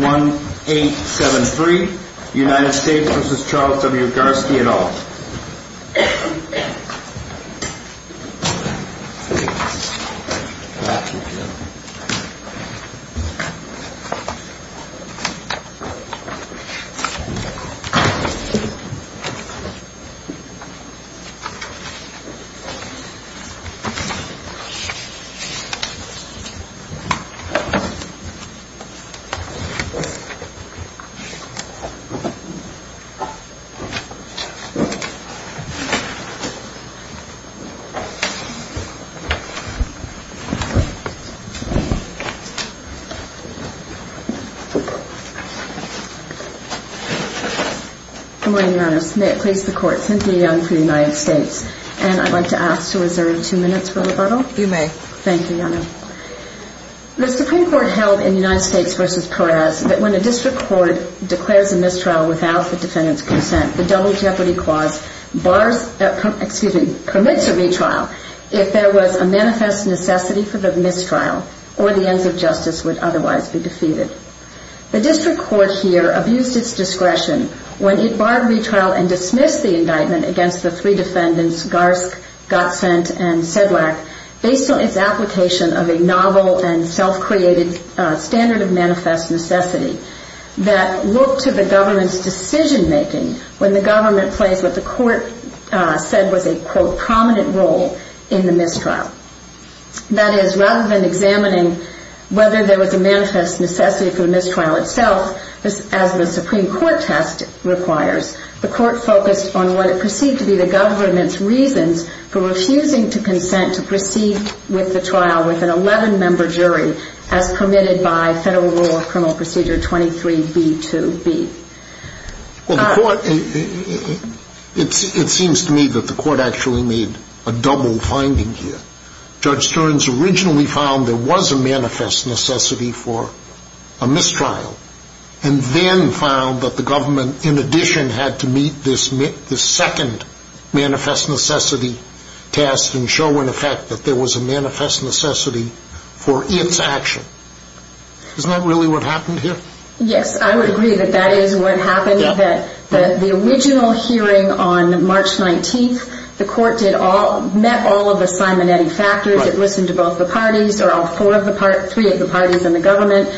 181873 United States v. Charles W. Garske et al. May it please the Court, Cynthia Young for the United States, and I'd like to ask to reserve two minutes for rebuttal. You may. Thank you, Your Honor. The Supreme Court held in United States v. Perez that when a district court declares a mistrial without the defendant's consent, the Double Jeopardy Clause bars, excuse me, permits a retrial if there was a manifest necessity for the mistrial or the ends of justice would otherwise be defeated. The district court here abused its discretion when it barred retrial and dismissed the indictment against the three defendants, Garske, Gotsent, and Gotsent. The Supreme Court's decision-making was based on a novel and self-created standard of manifest necessity that looked to the government's decision-making when the government plays what the Court said was a, quote, prominent role in the mistrial. That is, rather than examining whether there was a manifest necessity for the mistrial itself, as the Supreme Court test requires, the Court focused on what it perceived to be the government's reasons for the mistrial. It seems to me that the Court actually made a double finding here. Judge Stearns originally found there was a manifest necessity for a mistrial and then found that the government, in addition, had to meet this second manifest necessity test and show, in effect, that there was a manifest necessity for its action. Isn't that really what happened here? Yes, I would agree that that is what happened. The original hearing on March 19th, the Court met all of the Simonetti factors. It listened to both the parties or all three of the parties in the government.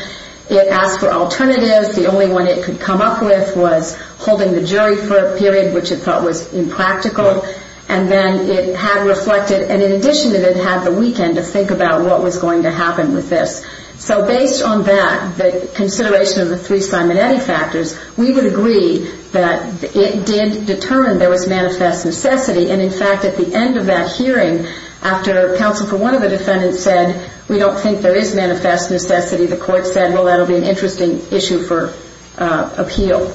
It asked for alternatives. The only one it could come up with was holding the jury for a period which it felt was impractical. And then it had reflected, and in addition to that, it had the weekend to think about what was going to happen with this. So based on that, the consideration of the three Simonetti factors, we would agree that it did determine there was manifest necessity. And, in fact, at the end of that hearing, after counsel for one of the defendants said, we don't think there is manifest necessity, the Court said, well, that will be an interesting issue for appeal.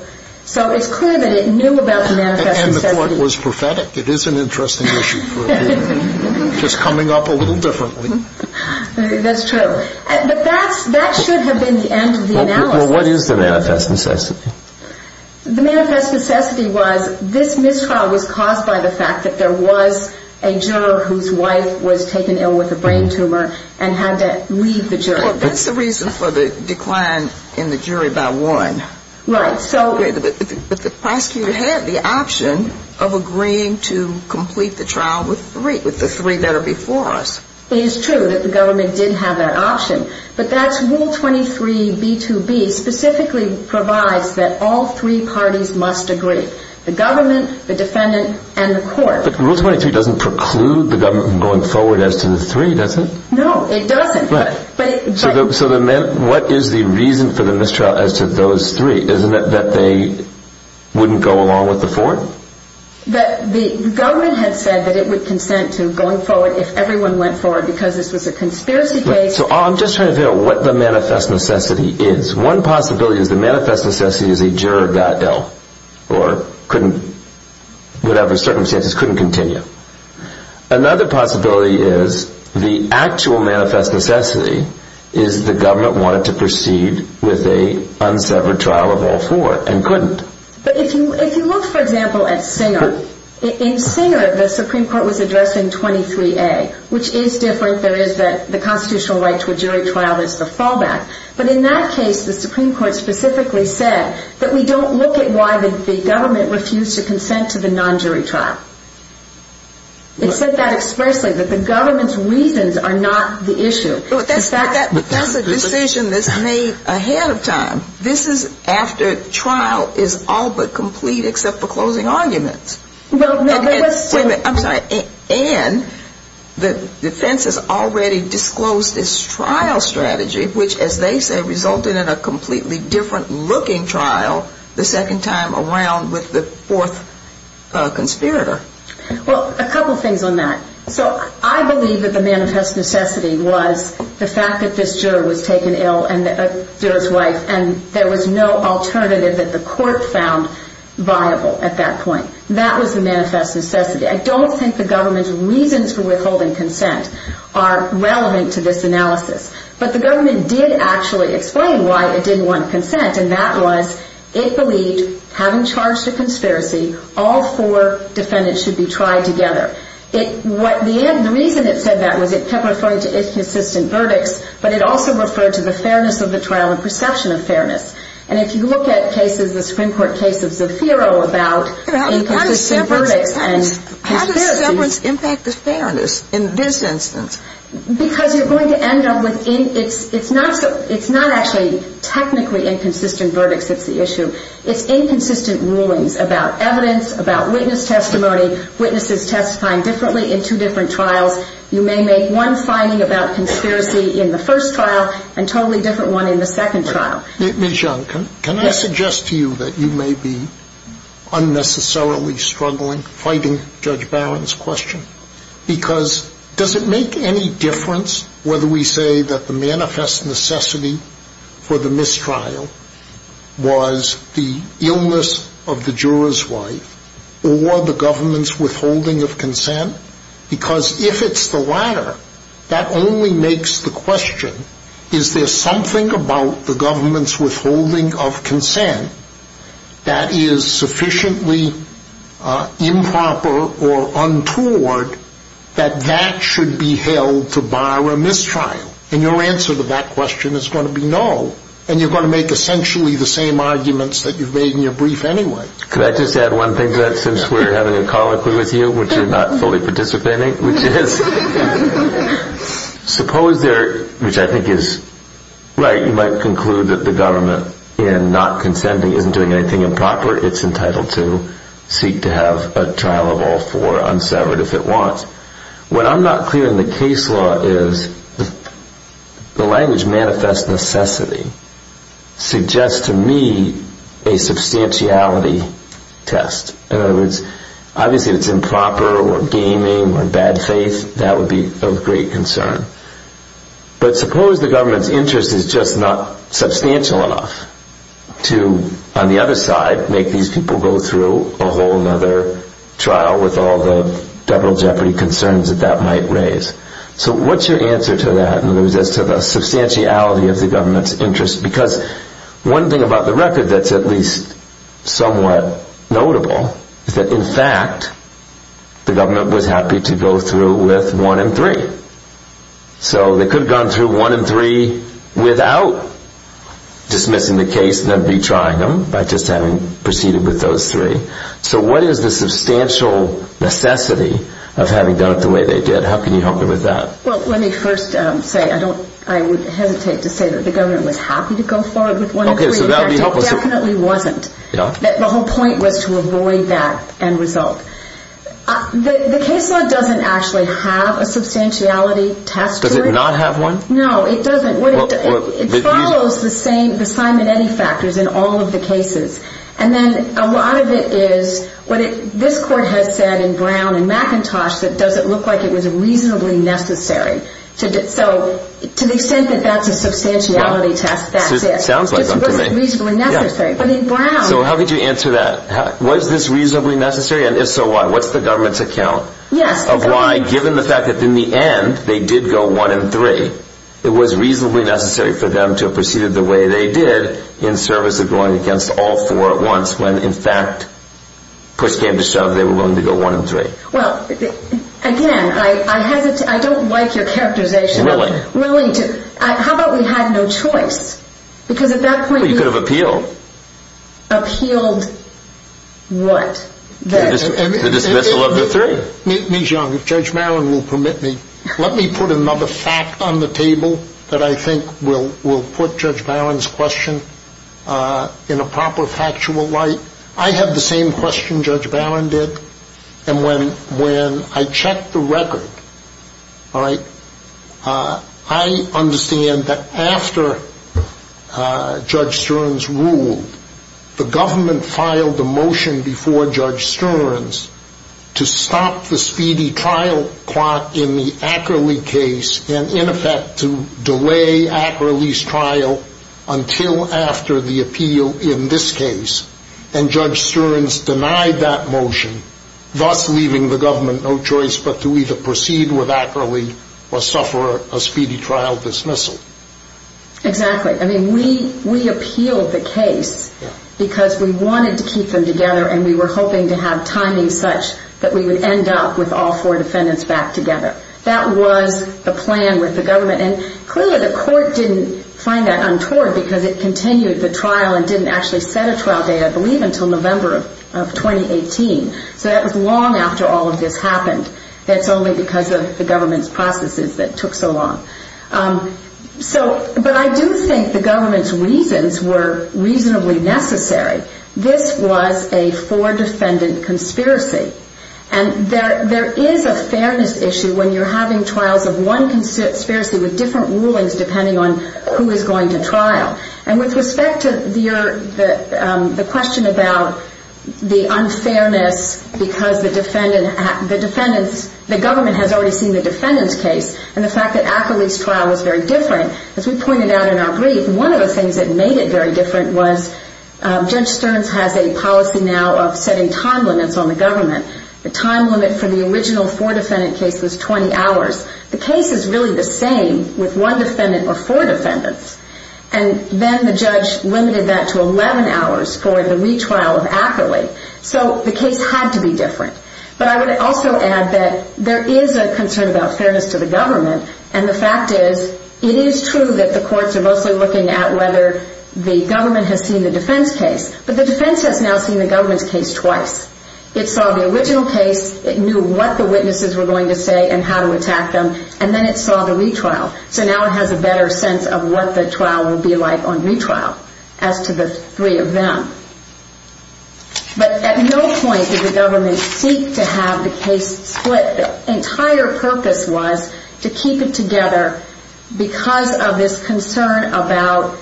So it's clear that it knew about the manifest necessity. And the Court was prophetic. It is an interesting issue for appeal, just coming up a little differently. That's true. But that should have been the end of the analysis. Well, what is the manifest necessity? The manifest necessity was this mistrial was caused by the fact that there was a juror whose wife was taken ill with a brain tumor and had to leave the jury. Well, that's the reason for the decline in the jury by one. Right. So the prosecutor had the option of agreeing to complete the trial with three, with the three that are before us. It is true that the government did have that option. But that's Rule 23B2B specifically provides that all three parties must agree, the government, the defendant, and the Court. But Rule 23 doesn't preclude the government from going forward as to the three, does it? No, it doesn't. Right. But So what is the reason for the mistrial as to those three? Isn't it that they wouldn't go along with the four? The government had said that it would consent to going forward if everyone went forward because this was a conspiracy case. So I'm just trying to figure out what the manifest necessity is. One possibility is the manifest necessity is a juror got ill or whatever circumstances, couldn't continue. Another possibility is the actual manifest necessity is the government wanted to proceed with a unsevered trial of all four and couldn't. But if you look, for example, at Singer, in Singer, the Supreme Court was addressing 23A, which is different. There is the constitutional right to a jury trial is the fallback. But in that case, the Supreme Court specifically said that we don't look at why the government refused to consent to the non-jury trial. It said that expressly, that the government's reasons are not the issue. But that's a decision that's made ahead of time. This is after trial is all but complete except for closing arguments. Well, no, there was still Wait a minute. I'm sorry. And the defense has already disclosed this trial strategy, which, as they say, resulted in a completely different-looking trial the second time around with the fourth conspirator. Well, a couple things on that. So I believe that the manifest necessity was the fact that this juror was taken ill and a juror's wife and there was no alternative that the court found viable at that point. That was the manifest necessity. I don't think the government's reasons for withholding did actually explain why it didn't want consent, and that was it believed, having charged a conspiracy, all four defendants should be tried together. The reason it said that was it kept referring to inconsistent verdicts, but it also referred to the fairness of the trial and perception of fairness. And if you look at cases, the Supreme Court case of Zaffiro about inconsistent verdicts and conspiracies How does severance impact the fairness in this instance? Because you're going to end up with it's not actually technically inconsistent verdicts that's the issue. It's inconsistent rulings about evidence, about witness testimony, witnesses testifying differently in two different trials. You may make one finding about conspiracy in the first trial and a totally different one in the second trial. Ms. Young, can I suggest to you that you may be unnecessarily struggling, fighting Judge whether we say that the manifest necessity for the mistrial was the illness of the juror's wife or the government's withholding of consent? Because if it's the latter, that only makes the question is there something about the government's withholding of consent that is sufficiently improper or mistrial? And your answer to that question is going to be no. And you're going to make essentially the same arguments that you've made in your brief anyway. Can I just add one thing to that since we're having a colloquy with you, which you're not fully participating, which is, suppose there, which I think is right, you might conclude that the government in not consenting isn't doing anything improper. It's entitled to seek to have a trial of all four unsevered if it wants. What I'm not clear in the case law is the language manifest necessity suggests to me a substantiality test. In other words, obviously if it's improper or gaming or bad faith, that would be of great concern. But suppose the government's interest is just not substantial enough to, on the other side, make these people go through a whole other trial with all the devil jeopardy concerns that that might raise. So what's your answer to that as to the substantiality of the government's interest? Because one thing about the record that's at least somewhat notable is that, in fact, the government was happy to go through with one and three. So they could have gone through one and three without dismissing the case and retrying them by just having proceeded with those three. So what is the substantial necessity of having done it the way they did? How can you help me with that? Well, let me first say, I would hesitate to say that the government was happy to go forward with one and three. In fact, it definitely wasn't. The whole point was to avoid that end result. The case law doesn't actually have a substantiality test. Does it not have one? No, it doesn't. It follows the Simonetti factors in all of the cases. And then a lot of it is what this court has said in Brown and McIntosh that it doesn't look like it was reasonably necessary. So to the extent that that's a substantiality test, that's it. So how could you answer that? Was this reasonably necessary? And if so, why? What's the government's account of why, given the fact that in the end they did go one and three, it was reasonably necessary for them to have proceeded the way they did in service of going against all four at once when, in fact, push came to shove, they were willing to go one and three? Well, again, I don't like your characterization. How about we had no choice? You could have appealed. Appealed what? The dismissal of the three. Let me put another fact on the table that I think will put Judge Barron's question in a proper factual light. I have the same question Judge Barron did. And when I checked the record, I understand that after Judge Stern's ruling, I was told the government filed a motion before Judge Stern's to stop the speedy trial in the Ackerley case and in effect to delay Ackerley's trial until after the appeal in this case. And Judge Stern's denied that motion, thus leaving the government no choice but to either proceed with Ackerley or suffer a speedy trial dismissal. Exactly. I mean, we appealed the case because we wanted to keep them together and we were hoping to have timings such that we would end up with all four defendants back together. That was the plan with the government. And clearly the court didn't find that untoward because it continued the trial and didn't actually set a trial date, I believe, until November of 2018. So that was long after all of this happened. That's only because of the government's reasons. But I do think the government's reasons were reasonably necessary. This was a four-defendant conspiracy. And there is a fairness issue when you're having trials of one conspiracy with different rulings depending on who is going to trial. And with respect to the question about the unfairness because the government has already seen the defendant's case and the fact that Ackerley's trial was very different, as we pointed out in our brief, one of the things that made it very different was Judge Stern's has a policy now of setting time limits on the government. The time limit for the original four-defendant case was 20 hours. The case is really the same with one defendant or four defendants. And then the judge limited that to 11 hours for the retrial of Ackerley. So the case had to be different. But I would also add that there is a concern about fairness to the government. And the fact is, it is true that the courts are mostly looking at whether the government has seen the defense case. But the defense has now seen the government's case twice. It saw the original case. It knew what the witnesses were going to say and how to attack them. And then it saw the retrial. So now it has a better sense of what the trial will be like on retrial as to the three of them. But at no point did the government seek to have the case split. The entire purpose was to make sure that the case was split and to keep it together because of this concern about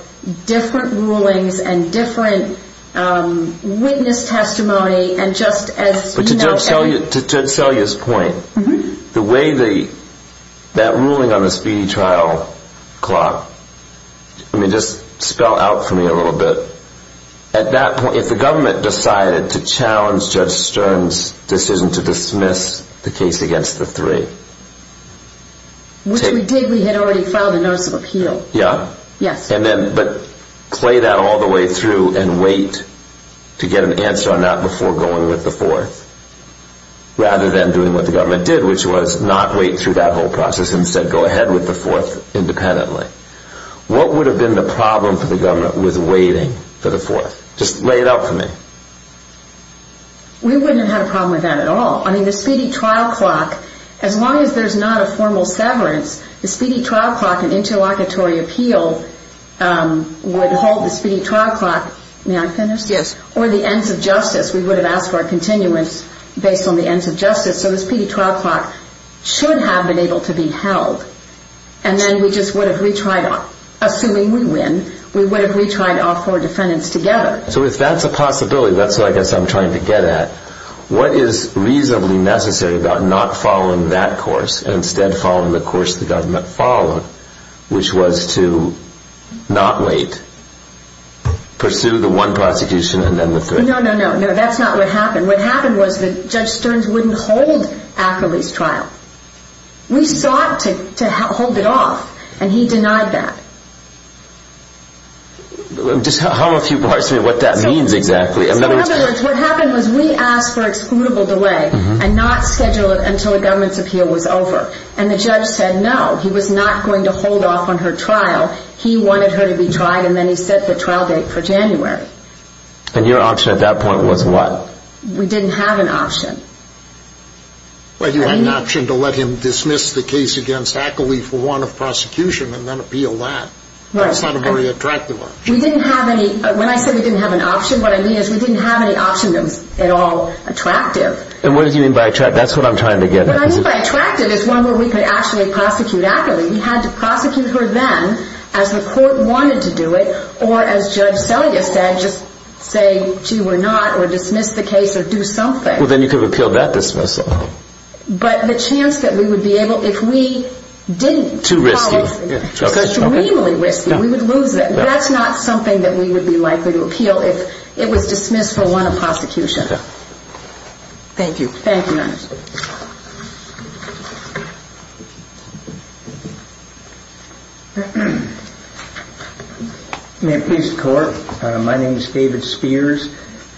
different rulings and different witness testimony. But to sell you this point, the way that ruling on the speedy trial clock, just spell out for me a little bit, at that point, if the government decided to challenge Judge Stern's decision to dismiss the case against the three, what would that mean? Which we did. We had already filed a notice of appeal. But play that all the way through and wait to get an answer on that before going with the fourth, rather than doing what the government did, which was not wait through that whole process and instead go ahead with the fourth independently. What would have been the problem for the government with waiting for the fourth? Just lay it out for me. We wouldn't have had a problem with that at all. I mean, the speedy trial clock, as long as there is not a formal interference, the speedy trial clock and interlocutory appeal would hold the speedy trial clock. May I finish? Yes. Or the ends of justice. We would have asked for a continuance based on the ends of justice. So the speedy trial clock should have been able to be held. And then we just would have retried, assuming we win, we would have retried all four defendants together. So if that's a possibility, that's what I guess I'm trying to get at. What is reasonably necessary about not following that course and instead following the course the government followed, which was to not wait, pursue the one prosecution and then the third? No, no, no. That's not what happened. What happened was that Judge Stearns wouldn't hold Ackerley's trial. We sought to hold it off and he denied that. Just hum a few bars to me what that means exactly. In other words, what happened was we asked for excludable delay and not schedule it until the government's appeal was over. And the judge said no. He was not going to hold off on her trial. He wanted her to be tried and then he set the trial date for January. And your option at that point was what? We didn't have an option. Well, you had an option to let him dismiss the case against Ackerley for warrant of prosecution and then appeal that. That's not a very attractive option. When I say we didn't have an option, what I mean is we didn't have any option that was at all attractive. And what do you mean by attractive? That's what I'm trying to get at. What I mean by attractive is one where we could actually prosecute Ackerley. We had to prosecute her then as the court wanted to do it or as Judge Selya said, just say she were not or dismiss the case or do something. Well, then you could have appealed that dismissal. But the chance that we would be able, if we didn't... Thank you. May it please the Court. My name is David Spears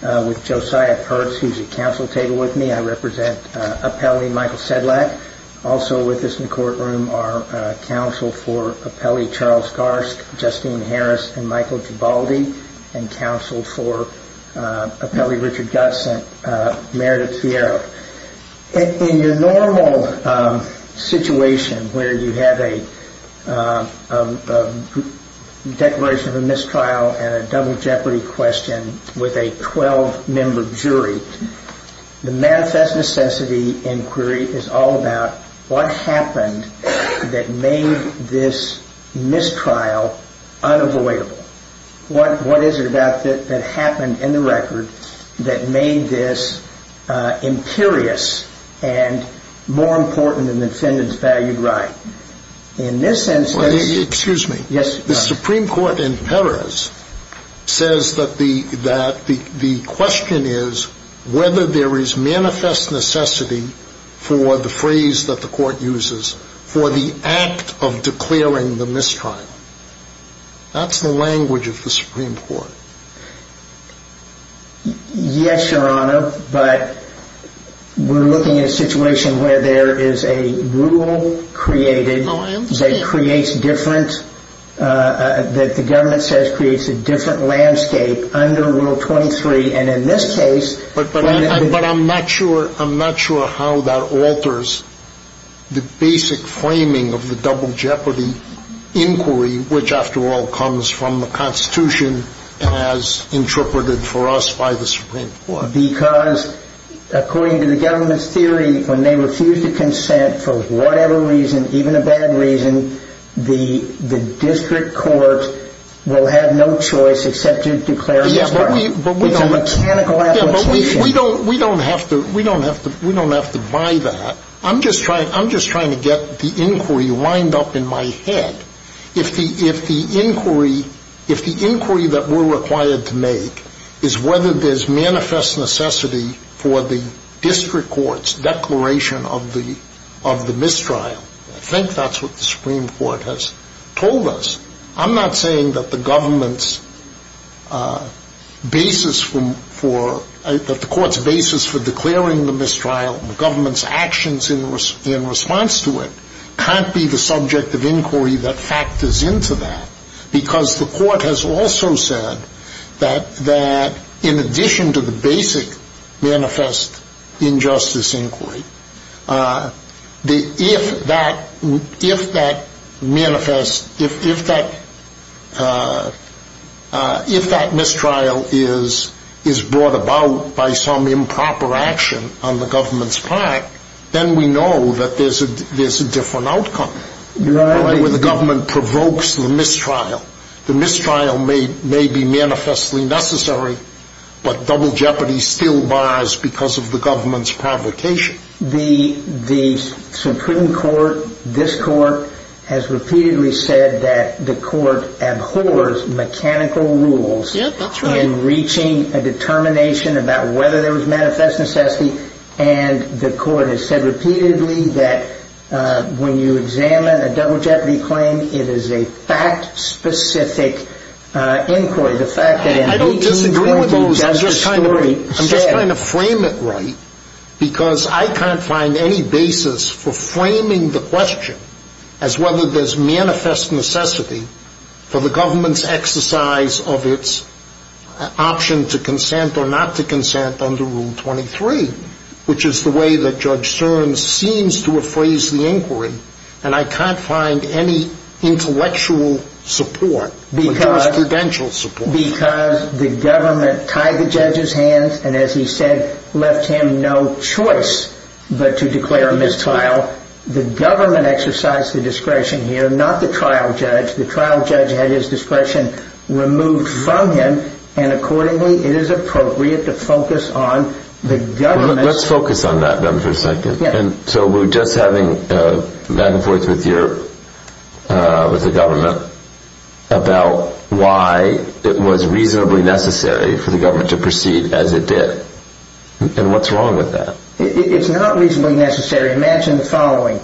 with Josiah Perks, who's at counsel table with me. I represent Appelli Michael Sedlak. Also with us in the courtroom are counsel for Appelli Charles Garsk, Justine Harris and Michael Gibaldi. And counsel for Appelli Richard Gutsen, Meredith Fiero. In your normal situation where you have a declaration of a mistrial and a double jeopardy question with a 12-member jury, the manifest necessity inquiry is all about what happened that made this mistrial unavoidable. What is it about that happened in the record that made this imperious and more important than the defendant's valued right? In this instance... Excuse me. The Supreme Court in Perez says that the question is whether there is manifest necessity for the phrase that the Court uses for the act of declaring the mistrial. Yes, Your Honor, but we're looking at a situation where there is a rule created that creates different... that the government says creates a different landscape under Rule 23. And in this case... But I'm not sure how that alters the basic framing of the double jeopardy inquiry, which, after all, comes from the Congress. I mean, the Constitution has interpreted for us by the Supreme Court. Because according to the government's theory, when they refuse to consent for whatever reason, even a bad reason, the district court will have no choice except to declare... But we don't have to buy that. I'm just trying to get the inquiry lined up in my head. If the inquiry that we're required to make is whether there's manifest necessity for the district court's declaration of the mistrial, I think that's what the Supreme Court has told us. I'm not saying that the government's basis for... in response to it can't be the subject of inquiry that factors into that. Because the Court has also said that in addition to the basic manifest injustice inquiry, if that manifest... if that mistrial is brought about by some improper action on the government's part, then we know that there's a different outcome, where the government provokes the mistrial. The mistrial may be manifestly necessary, but double jeopardy still bars because of the government's provocation. The Supreme Court, this Court, has repeatedly said that the Court abhors mechanical rules... Yeah, that's right. ...in reaching a determination about whether there was manifest necessity, and the Court has said repeatedly that when you examine a double jeopardy claim, it is a fact-specific inquiry. I don't disagree with you. I'm just trying to frame it right, because I can't find any basis for framing the question as whether there's manifest necessity for the government's exercise of its... option to consent or not to consent under Rule 23, which is the way that Judge Searns seems to have phrased the inquiry, and I can't find any intellectual support or jurisprudential support. Because the government tied the judge's hands and, as he said, left him no choice but to declare a mistrial. The government exercised the discretion here, not the trial judge. The trial judge had his discretion removed from him, and accordingly it is appropriate to focus on the government's... Let's focus on that for a second. So we're just having back and forth with the government about why it was reasonably necessary for the government to proceed as it did, and what's wrong with that? It's not reasonably necessary. Imagine the following,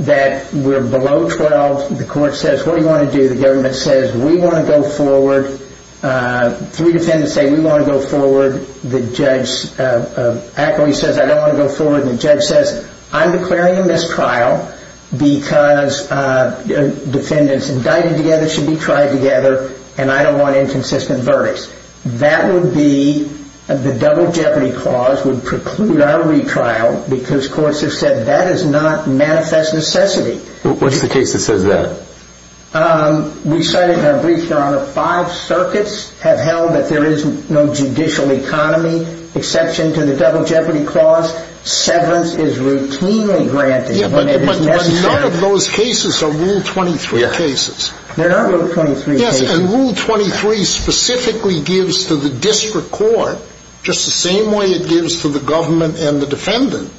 that we're below 12. The court says, what do you want to do? The government says, we want to go forward. Three defendants say, we want to go forward. The judge says, I'm declaring a mistrial because defendants indicted together should be tried together, and I don't want inconsistent verdicts. That would be, the double jeopardy clause would preclude our retrial because courts have said that is not manifest necessity. What's the case that says that? We cited in our brief, Your Honor, five circuits have held that there is no judicial economy exception to the double jeopardy clause. Severance is routinely granted when it is necessary. None of those cases are Rule 23 cases. Rule 23 specifically gives to the district court, just the same way it gives to the government and the defendant,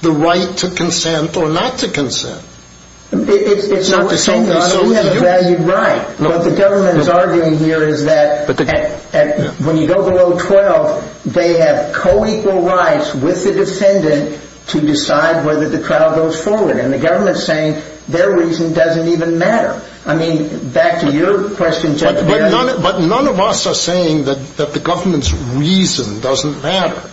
the right to consent or not to consent. It's not the same, Your Honor. We have a valued right. What the government is arguing here is that when you go below 12, they have co-equal rights with the defendant to decide whether the trial goes forward. And the government is saying, their reason doesn't even matter. Back to your question, Judge. But none of us are saying that the government's reason doesn't matter.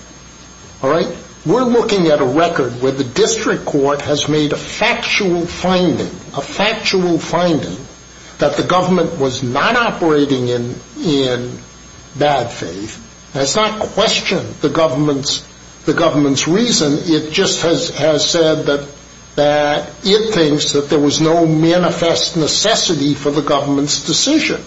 We're looking at a record where the district court has made a factual finding, a factual finding, that the government was not operating in bad faith. It has not questioned the government's reason. It just has said that it thinks that there was no manifest necessity for the government's decision.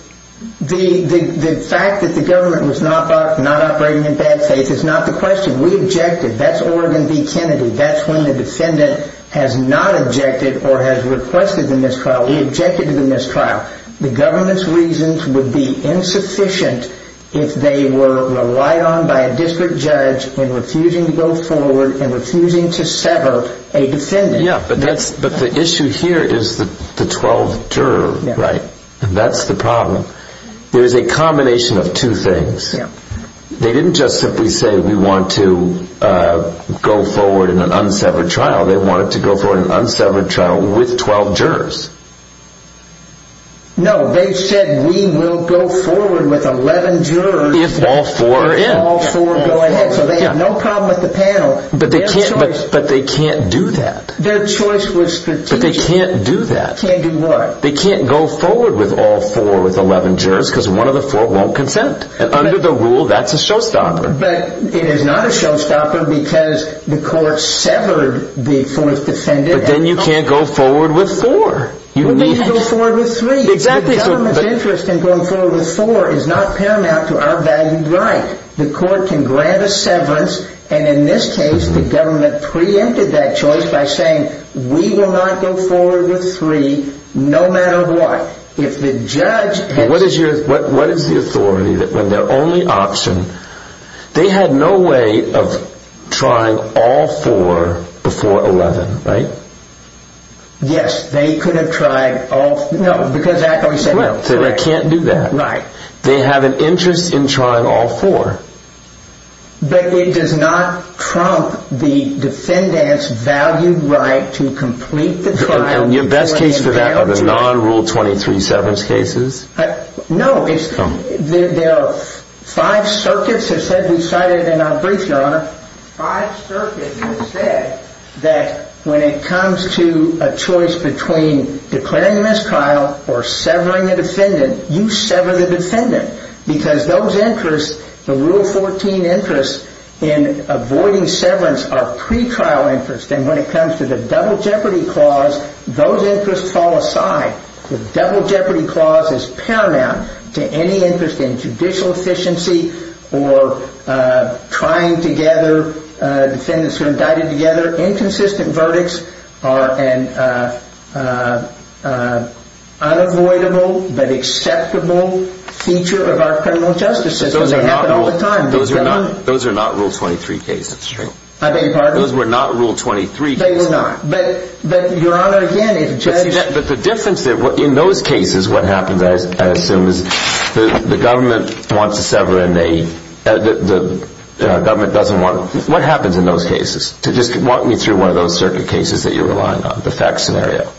The fact that the government was not operating in bad faith is not the question. We objected. That's Oregon v. Kennedy. That's when the defendant has not objected or has requested the mistrial. We objected to the mistrial. The government's reasons would be insufficient if they were relied on by a district judge in refusing to go forward and refusing to sever a defendant. But the issue here is the 12 juror, right? That's the problem. There is a combination of two things. They didn't just simply say we want to go forward in an unsevered trial. They wanted to go forward in an unsevered trial with 12 jurors. No, they said we will go forward with 11 jurors. If all four are in. But they can't do that. They can't go forward with all four with 11 jurors because one of the four won't consent. Under the rule, that's a showstopper. But it is not a showstopper because the court severed the fourth defendant. But then you can't go forward with four. The government's interest in going forward with four is not paramount to our valued right. The court can grant a severance. And in this case, the government preempted that choice by saying we will not go forward with three no matter what. If the judge. What is the authority when their only option. They had no way of trying all four before 11, right? Yes, they could have tried all four. They have an interest in trying all four. But it does not trump the defendant's valued right to complete the trial. And your best case for that are the non-rule 23 severance cases? No. There are five circuits. When it comes to a choice between declaring a mistrial or severing a defendant, you sever the defendant. Because those interests, the rule 14 interest in avoiding severance are pre-trial interest. And when it comes to the double jeopardy clause, those interests fall aside. The double jeopardy clause is paramount. It is paramount to any interest in judicial efficiency or trying to gather defendants who are indicted together. Inconsistent verdicts are an unavoidable but acceptable feature of our criminal justice system. Those are not rule 23 cases. Those were not rule 23 cases. They were not. But the difference in those cases, what happens, I assume, is the government wants to sever and the government doesn't want to. What happens in those cases? Walk me through one of those circuit cases that you're relying on, the fact scenario.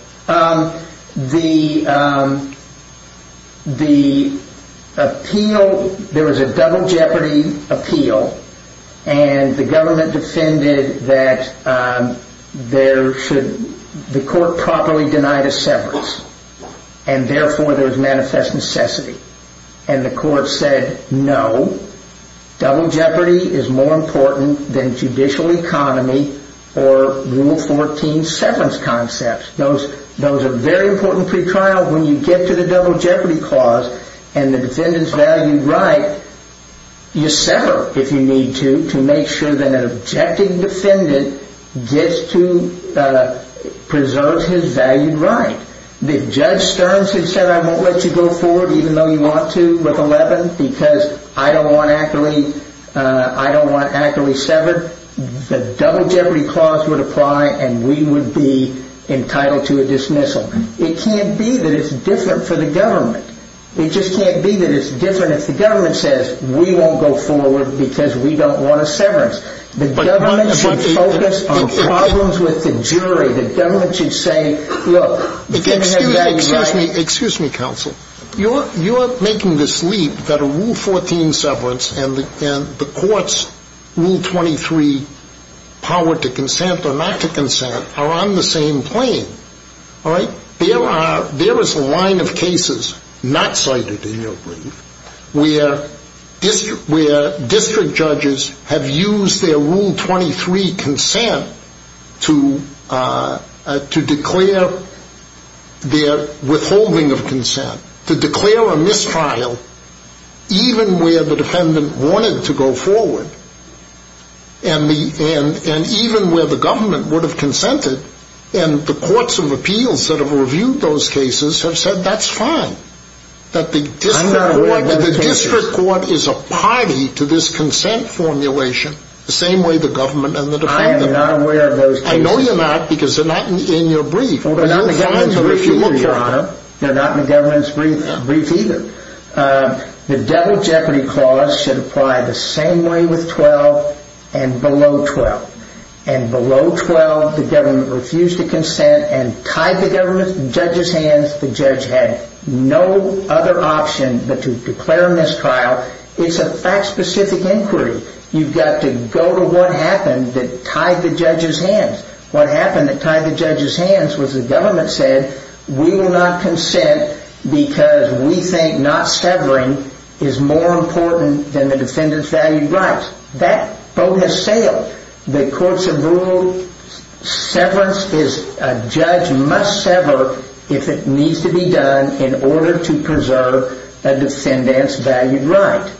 The appeal, there was a double jeopardy appeal. And the government defended that there should, the court properly denied a severance. And therefore there's manifest necessity. And the court said no, double jeopardy is more important than judicial economy or rule 14 severance concepts. Those are very important pre-trial when you get to the double jeopardy clause and the defendant's valued right, you sever if you need to, to make sure that an objecting defendant gets to preserve his valued right. Judge Stearns had said I won't let you go forward even though you want to with 11 because I don't want Ackerley severed. The double jeopardy clause would apply and we would be entitled to a dismissal. It can't be that it's different for the government. It just can't be that it's different if the government says we won't go forward because we don't want a severance. The government should focus on problems with the jury. Excuse me, counsel. You're making this leap that a rule 14 severance and the court's rule 23, power to consent or not to consent are on the same plane. There is a line of cases not cited in your brief where district judges have used their rule 23 consent to declare their withholding of consent, to declare a mistrial even where the defendant wanted to go forward and even where the government would have consented and the courts of appeals that have reviewed those cases have said that's fine. I'm not aware of those cases. The district court is a party to this consent formulation the same way the government and the defendant are. I am not aware of those cases. I know you're not because they're not in your brief. They're not in the government's brief either. The devil jeopardy clause should apply the same way with 12 and below 12. And below 12 the government refused to consent and tied the government to the judge's hands. The judge had no other option but to declare a mistrial. It's a fact specific inquiry. You've got to go to what happened that tied the judge's hands. What happened that tied the judge's hands was the government said we will not consent because we think not severing is more important than the defendant's valued rights. That boat has sailed. The courts have ruled severance is a judge must sever if it needs to be done in order to preserve a defendant's valued rights.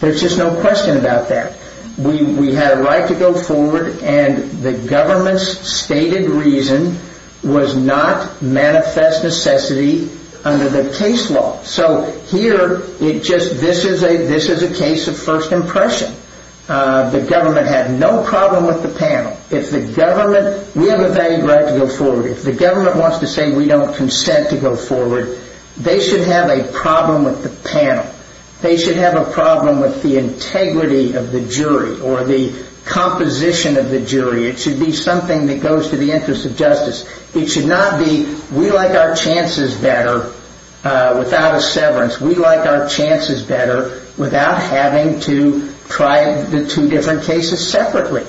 There's just no question about that. We had a right to go forward and the government's stated reason was not manifest necessity under the case law. This is a case of first impression. The government had no problem with the panel. We have a valued right to go forward. If the government wants to say we don't consent to go forward, they should have a problem with the panel. They should have a problem with the integrity of the jury or the composition of the jury. It should be something that goes to the interest of justice. It should not be we like our chances better without a severance. We like our chances better without having to try the two different cases separately.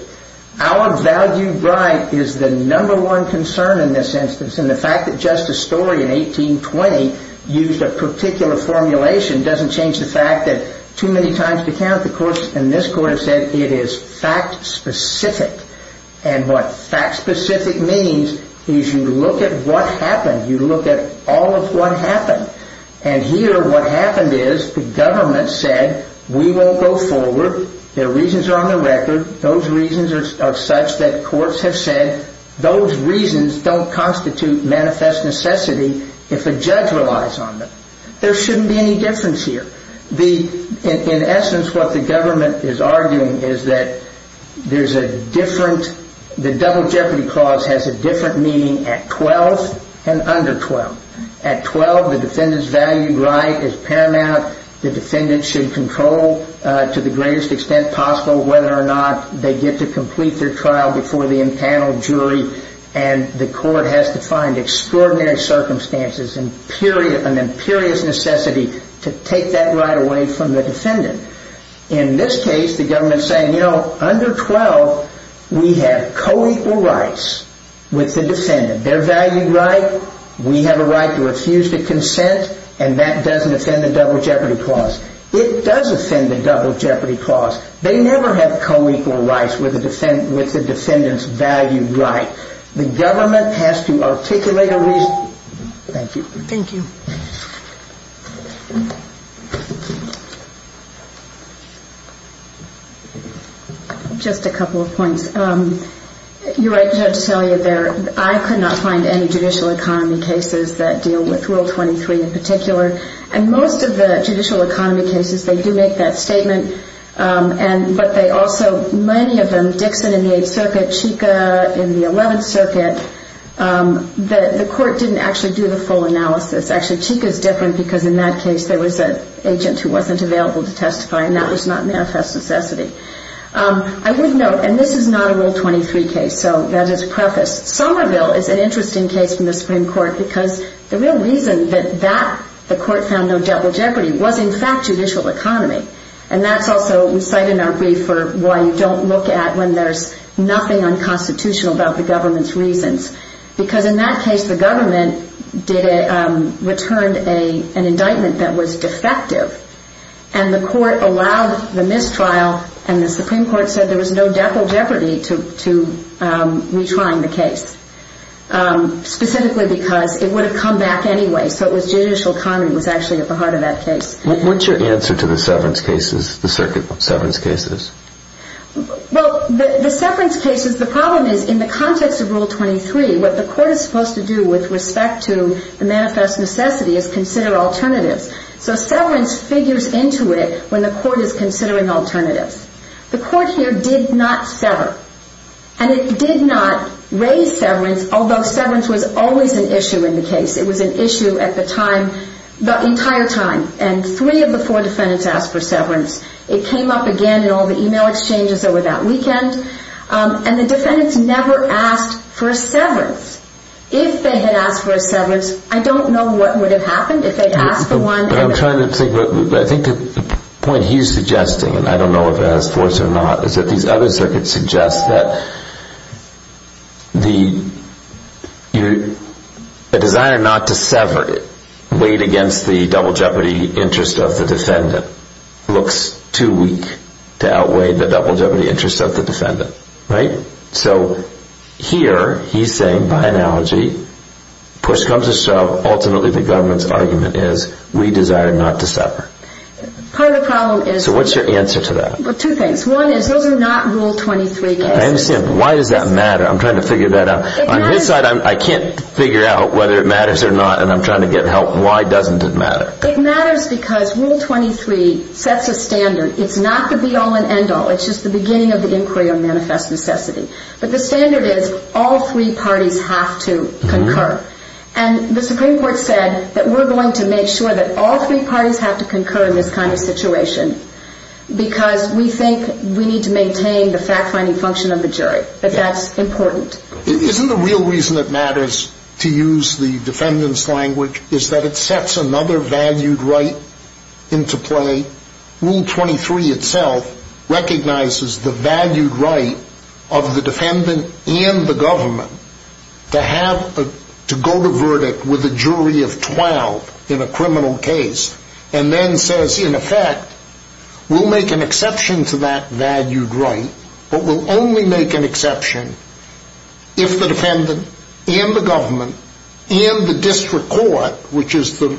Our valued right is the number one concern in this instance. The fact that Justice Story in 1820 used a particular formulation doesn't change the fact that too many times to count the courts in this court have said it is fact specific. What fact specific means is you look at what happened. You look at all of what happened. Here what happened is the government said we won't go forward. The reasons are on the record. Those reasons are such that courts have said those reasons don't constitute manifest necessity if a judge relies on them. There shouldn't be any difference here. In essence what the government is arguing is that there is a different, the double jeopardy clause has a different meaning at 12 and under 12. At 12 the defendant's valued right is paramount. The defendant should control to the greatest extent possible whether or not they get to complete their trial before the impaneled jury. The court has to find extraordinary circumstances and an imperious necessity to take that right away from the defendant. In this case the government is saying under 12 we have co-equal rights with the defendant. Their valued right. We have a right to refuse to consent and that doesn't offend the double jeopardy clause. It does offend the double jeopardy clause. They never have co-equal rights with the defendant's valued right. The government has to articulate a reason. Thank you. Just a couple of points. Your right to tell you there I could not find any judicial economy cases that deal with rule 23 in particular. And most of the judicial economy cases they do make that statement. But they also, many of them, Dixon in the 8th circuit, Chica in the 11th circuit, the court didn't actually do the full analysis. Actually Chica is different because in that case there was an agent who wasn't available to testify and that was not manifest necessity. I would note, and this is not a rule 23 case, so that is prefaced. Somerville is an interesting case from the Supreme Court because the real reason that the court found no double jeopardy was in fact judicial economy. And that's also cited in our brief for why you don't look at when there's nothing unconstitutional about the government's reasons. Because in that case the government returned an indictment that was defective. And the court allowed the mistrial and the Supreme Court said there was no double jeopardy to retrying the case. Specifically because it would have come back anyway, so it was judicial economy that was actually at the heart of that case. What's your answer to the severance cases, the circuit severance cases? Well, the severance cases, the problem is in the context of rule 23 what the court is supposed to do with respect to the manifest necessity is consider alternatives. So severance figures into it when the court is considering alternatives. The court here did not sever. And it did not raise severance, although severance was always an issue in the case. It was an issue at the time, the entire time. And three of the four defendants asked for severance. It came up again in all the e-mail exchanges over that weekend. And the defendants never asked for a severance. If they had asked for a severance, I don't know what would have happened if they had asked for one. I think the point he's suggesting, and I don't know if it has force or not, is that these other circuits suggest that the desire not to sever weighed against the double jeopardy interest of the defendant. So here he's saying, by analogy, push comes to shove, ultimately the government's argument is we desire not to sever. So what's your answer to that? Two things. One is those are not rule 23 cases. I understand, but why does that matter? I'm trying to figure that out. On his side, I can't figure out whether it matters or not, and I'm trying to get help. Why doesn't it matter? It matters because rule 23 sets a standard. It's not the be-all and end-all. It's just the beginning of the inquiry of manifest necessity. But the standard is all three parties have to concur. And the Supreme Court said that we're going to make sure that all three parties have to concur in this kind of situation. Because we think we need to maintain the fact-finding function of the jury. But that's important. Isn't the real reason it matters to use the defendant's language is that it sets another valued right into play? Rule 23 itself recognizes the valued right of the defendant and the government to go to verdict with a jury of 12 in a criminal case and then says, in effect, we'll make an exception to that valued right, but we'll only make an exception if the defendant and the government and the district court, which is the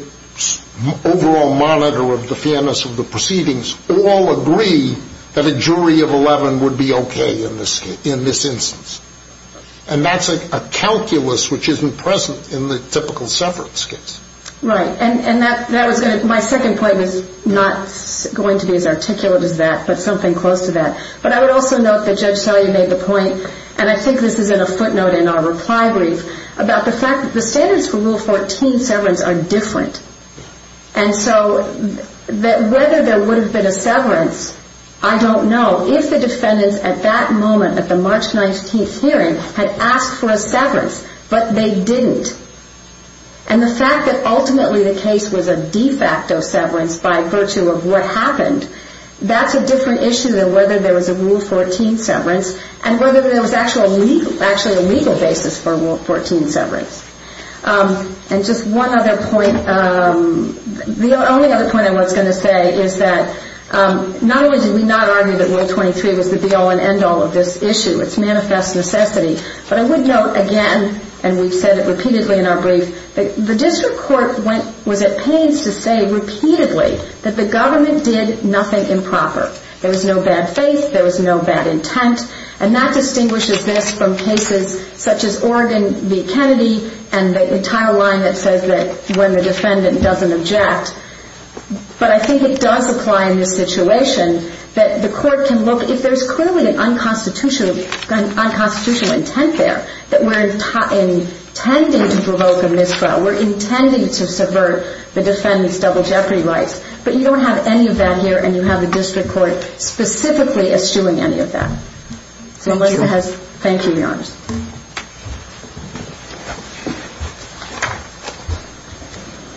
overall monitor of the fairness of the proceedings, all agree that a jury of 11 would be okay in this instance. And that's a calculus which isn't present in the typical severance case. Right. And my second point is not going to be as articulate as that, but something close to that. But I would also note that Judge Salyer made the point, and I think this is in a footnote in our reply brief, about the fact that the standards for Rule 14 severance are different. And so whether there would have been a severance, I don't know. If the defendants at that moment, at the March 19th hearing, had asked for a severance, but they didn't, and the fact that ultimately the case was a de facto severance by virtue of what happened, that's a different issue than whether there was a Rule 14 severance and whether there was actually a legal basis for Rule 14 severance. And just one other point. The only other point I was going to say is that not only did we not argue that Rule 23 was the be-all and end-all of this issue, it's manifest necessity, but I would note again, and we've said it repeatedly in our brief, that the district court was at pains to say repeatedly that the government did nothing improper. There was no bad faith. There was no bad intent. And that distinguishes this from cases such as Oregon v. Kennedy and the entire line that says that when the defendant doesn't object, but I think it does apply in this situation, that the court can look, if there's clearly an unconstitutional intent there, that we're intending to provoke a miscrime, we're intending to subvert the defendant's double jeopardy rights, but you don't have any of that here and you have the district court specifically eschewing any of that. Thank you, Your Honor. Thank you.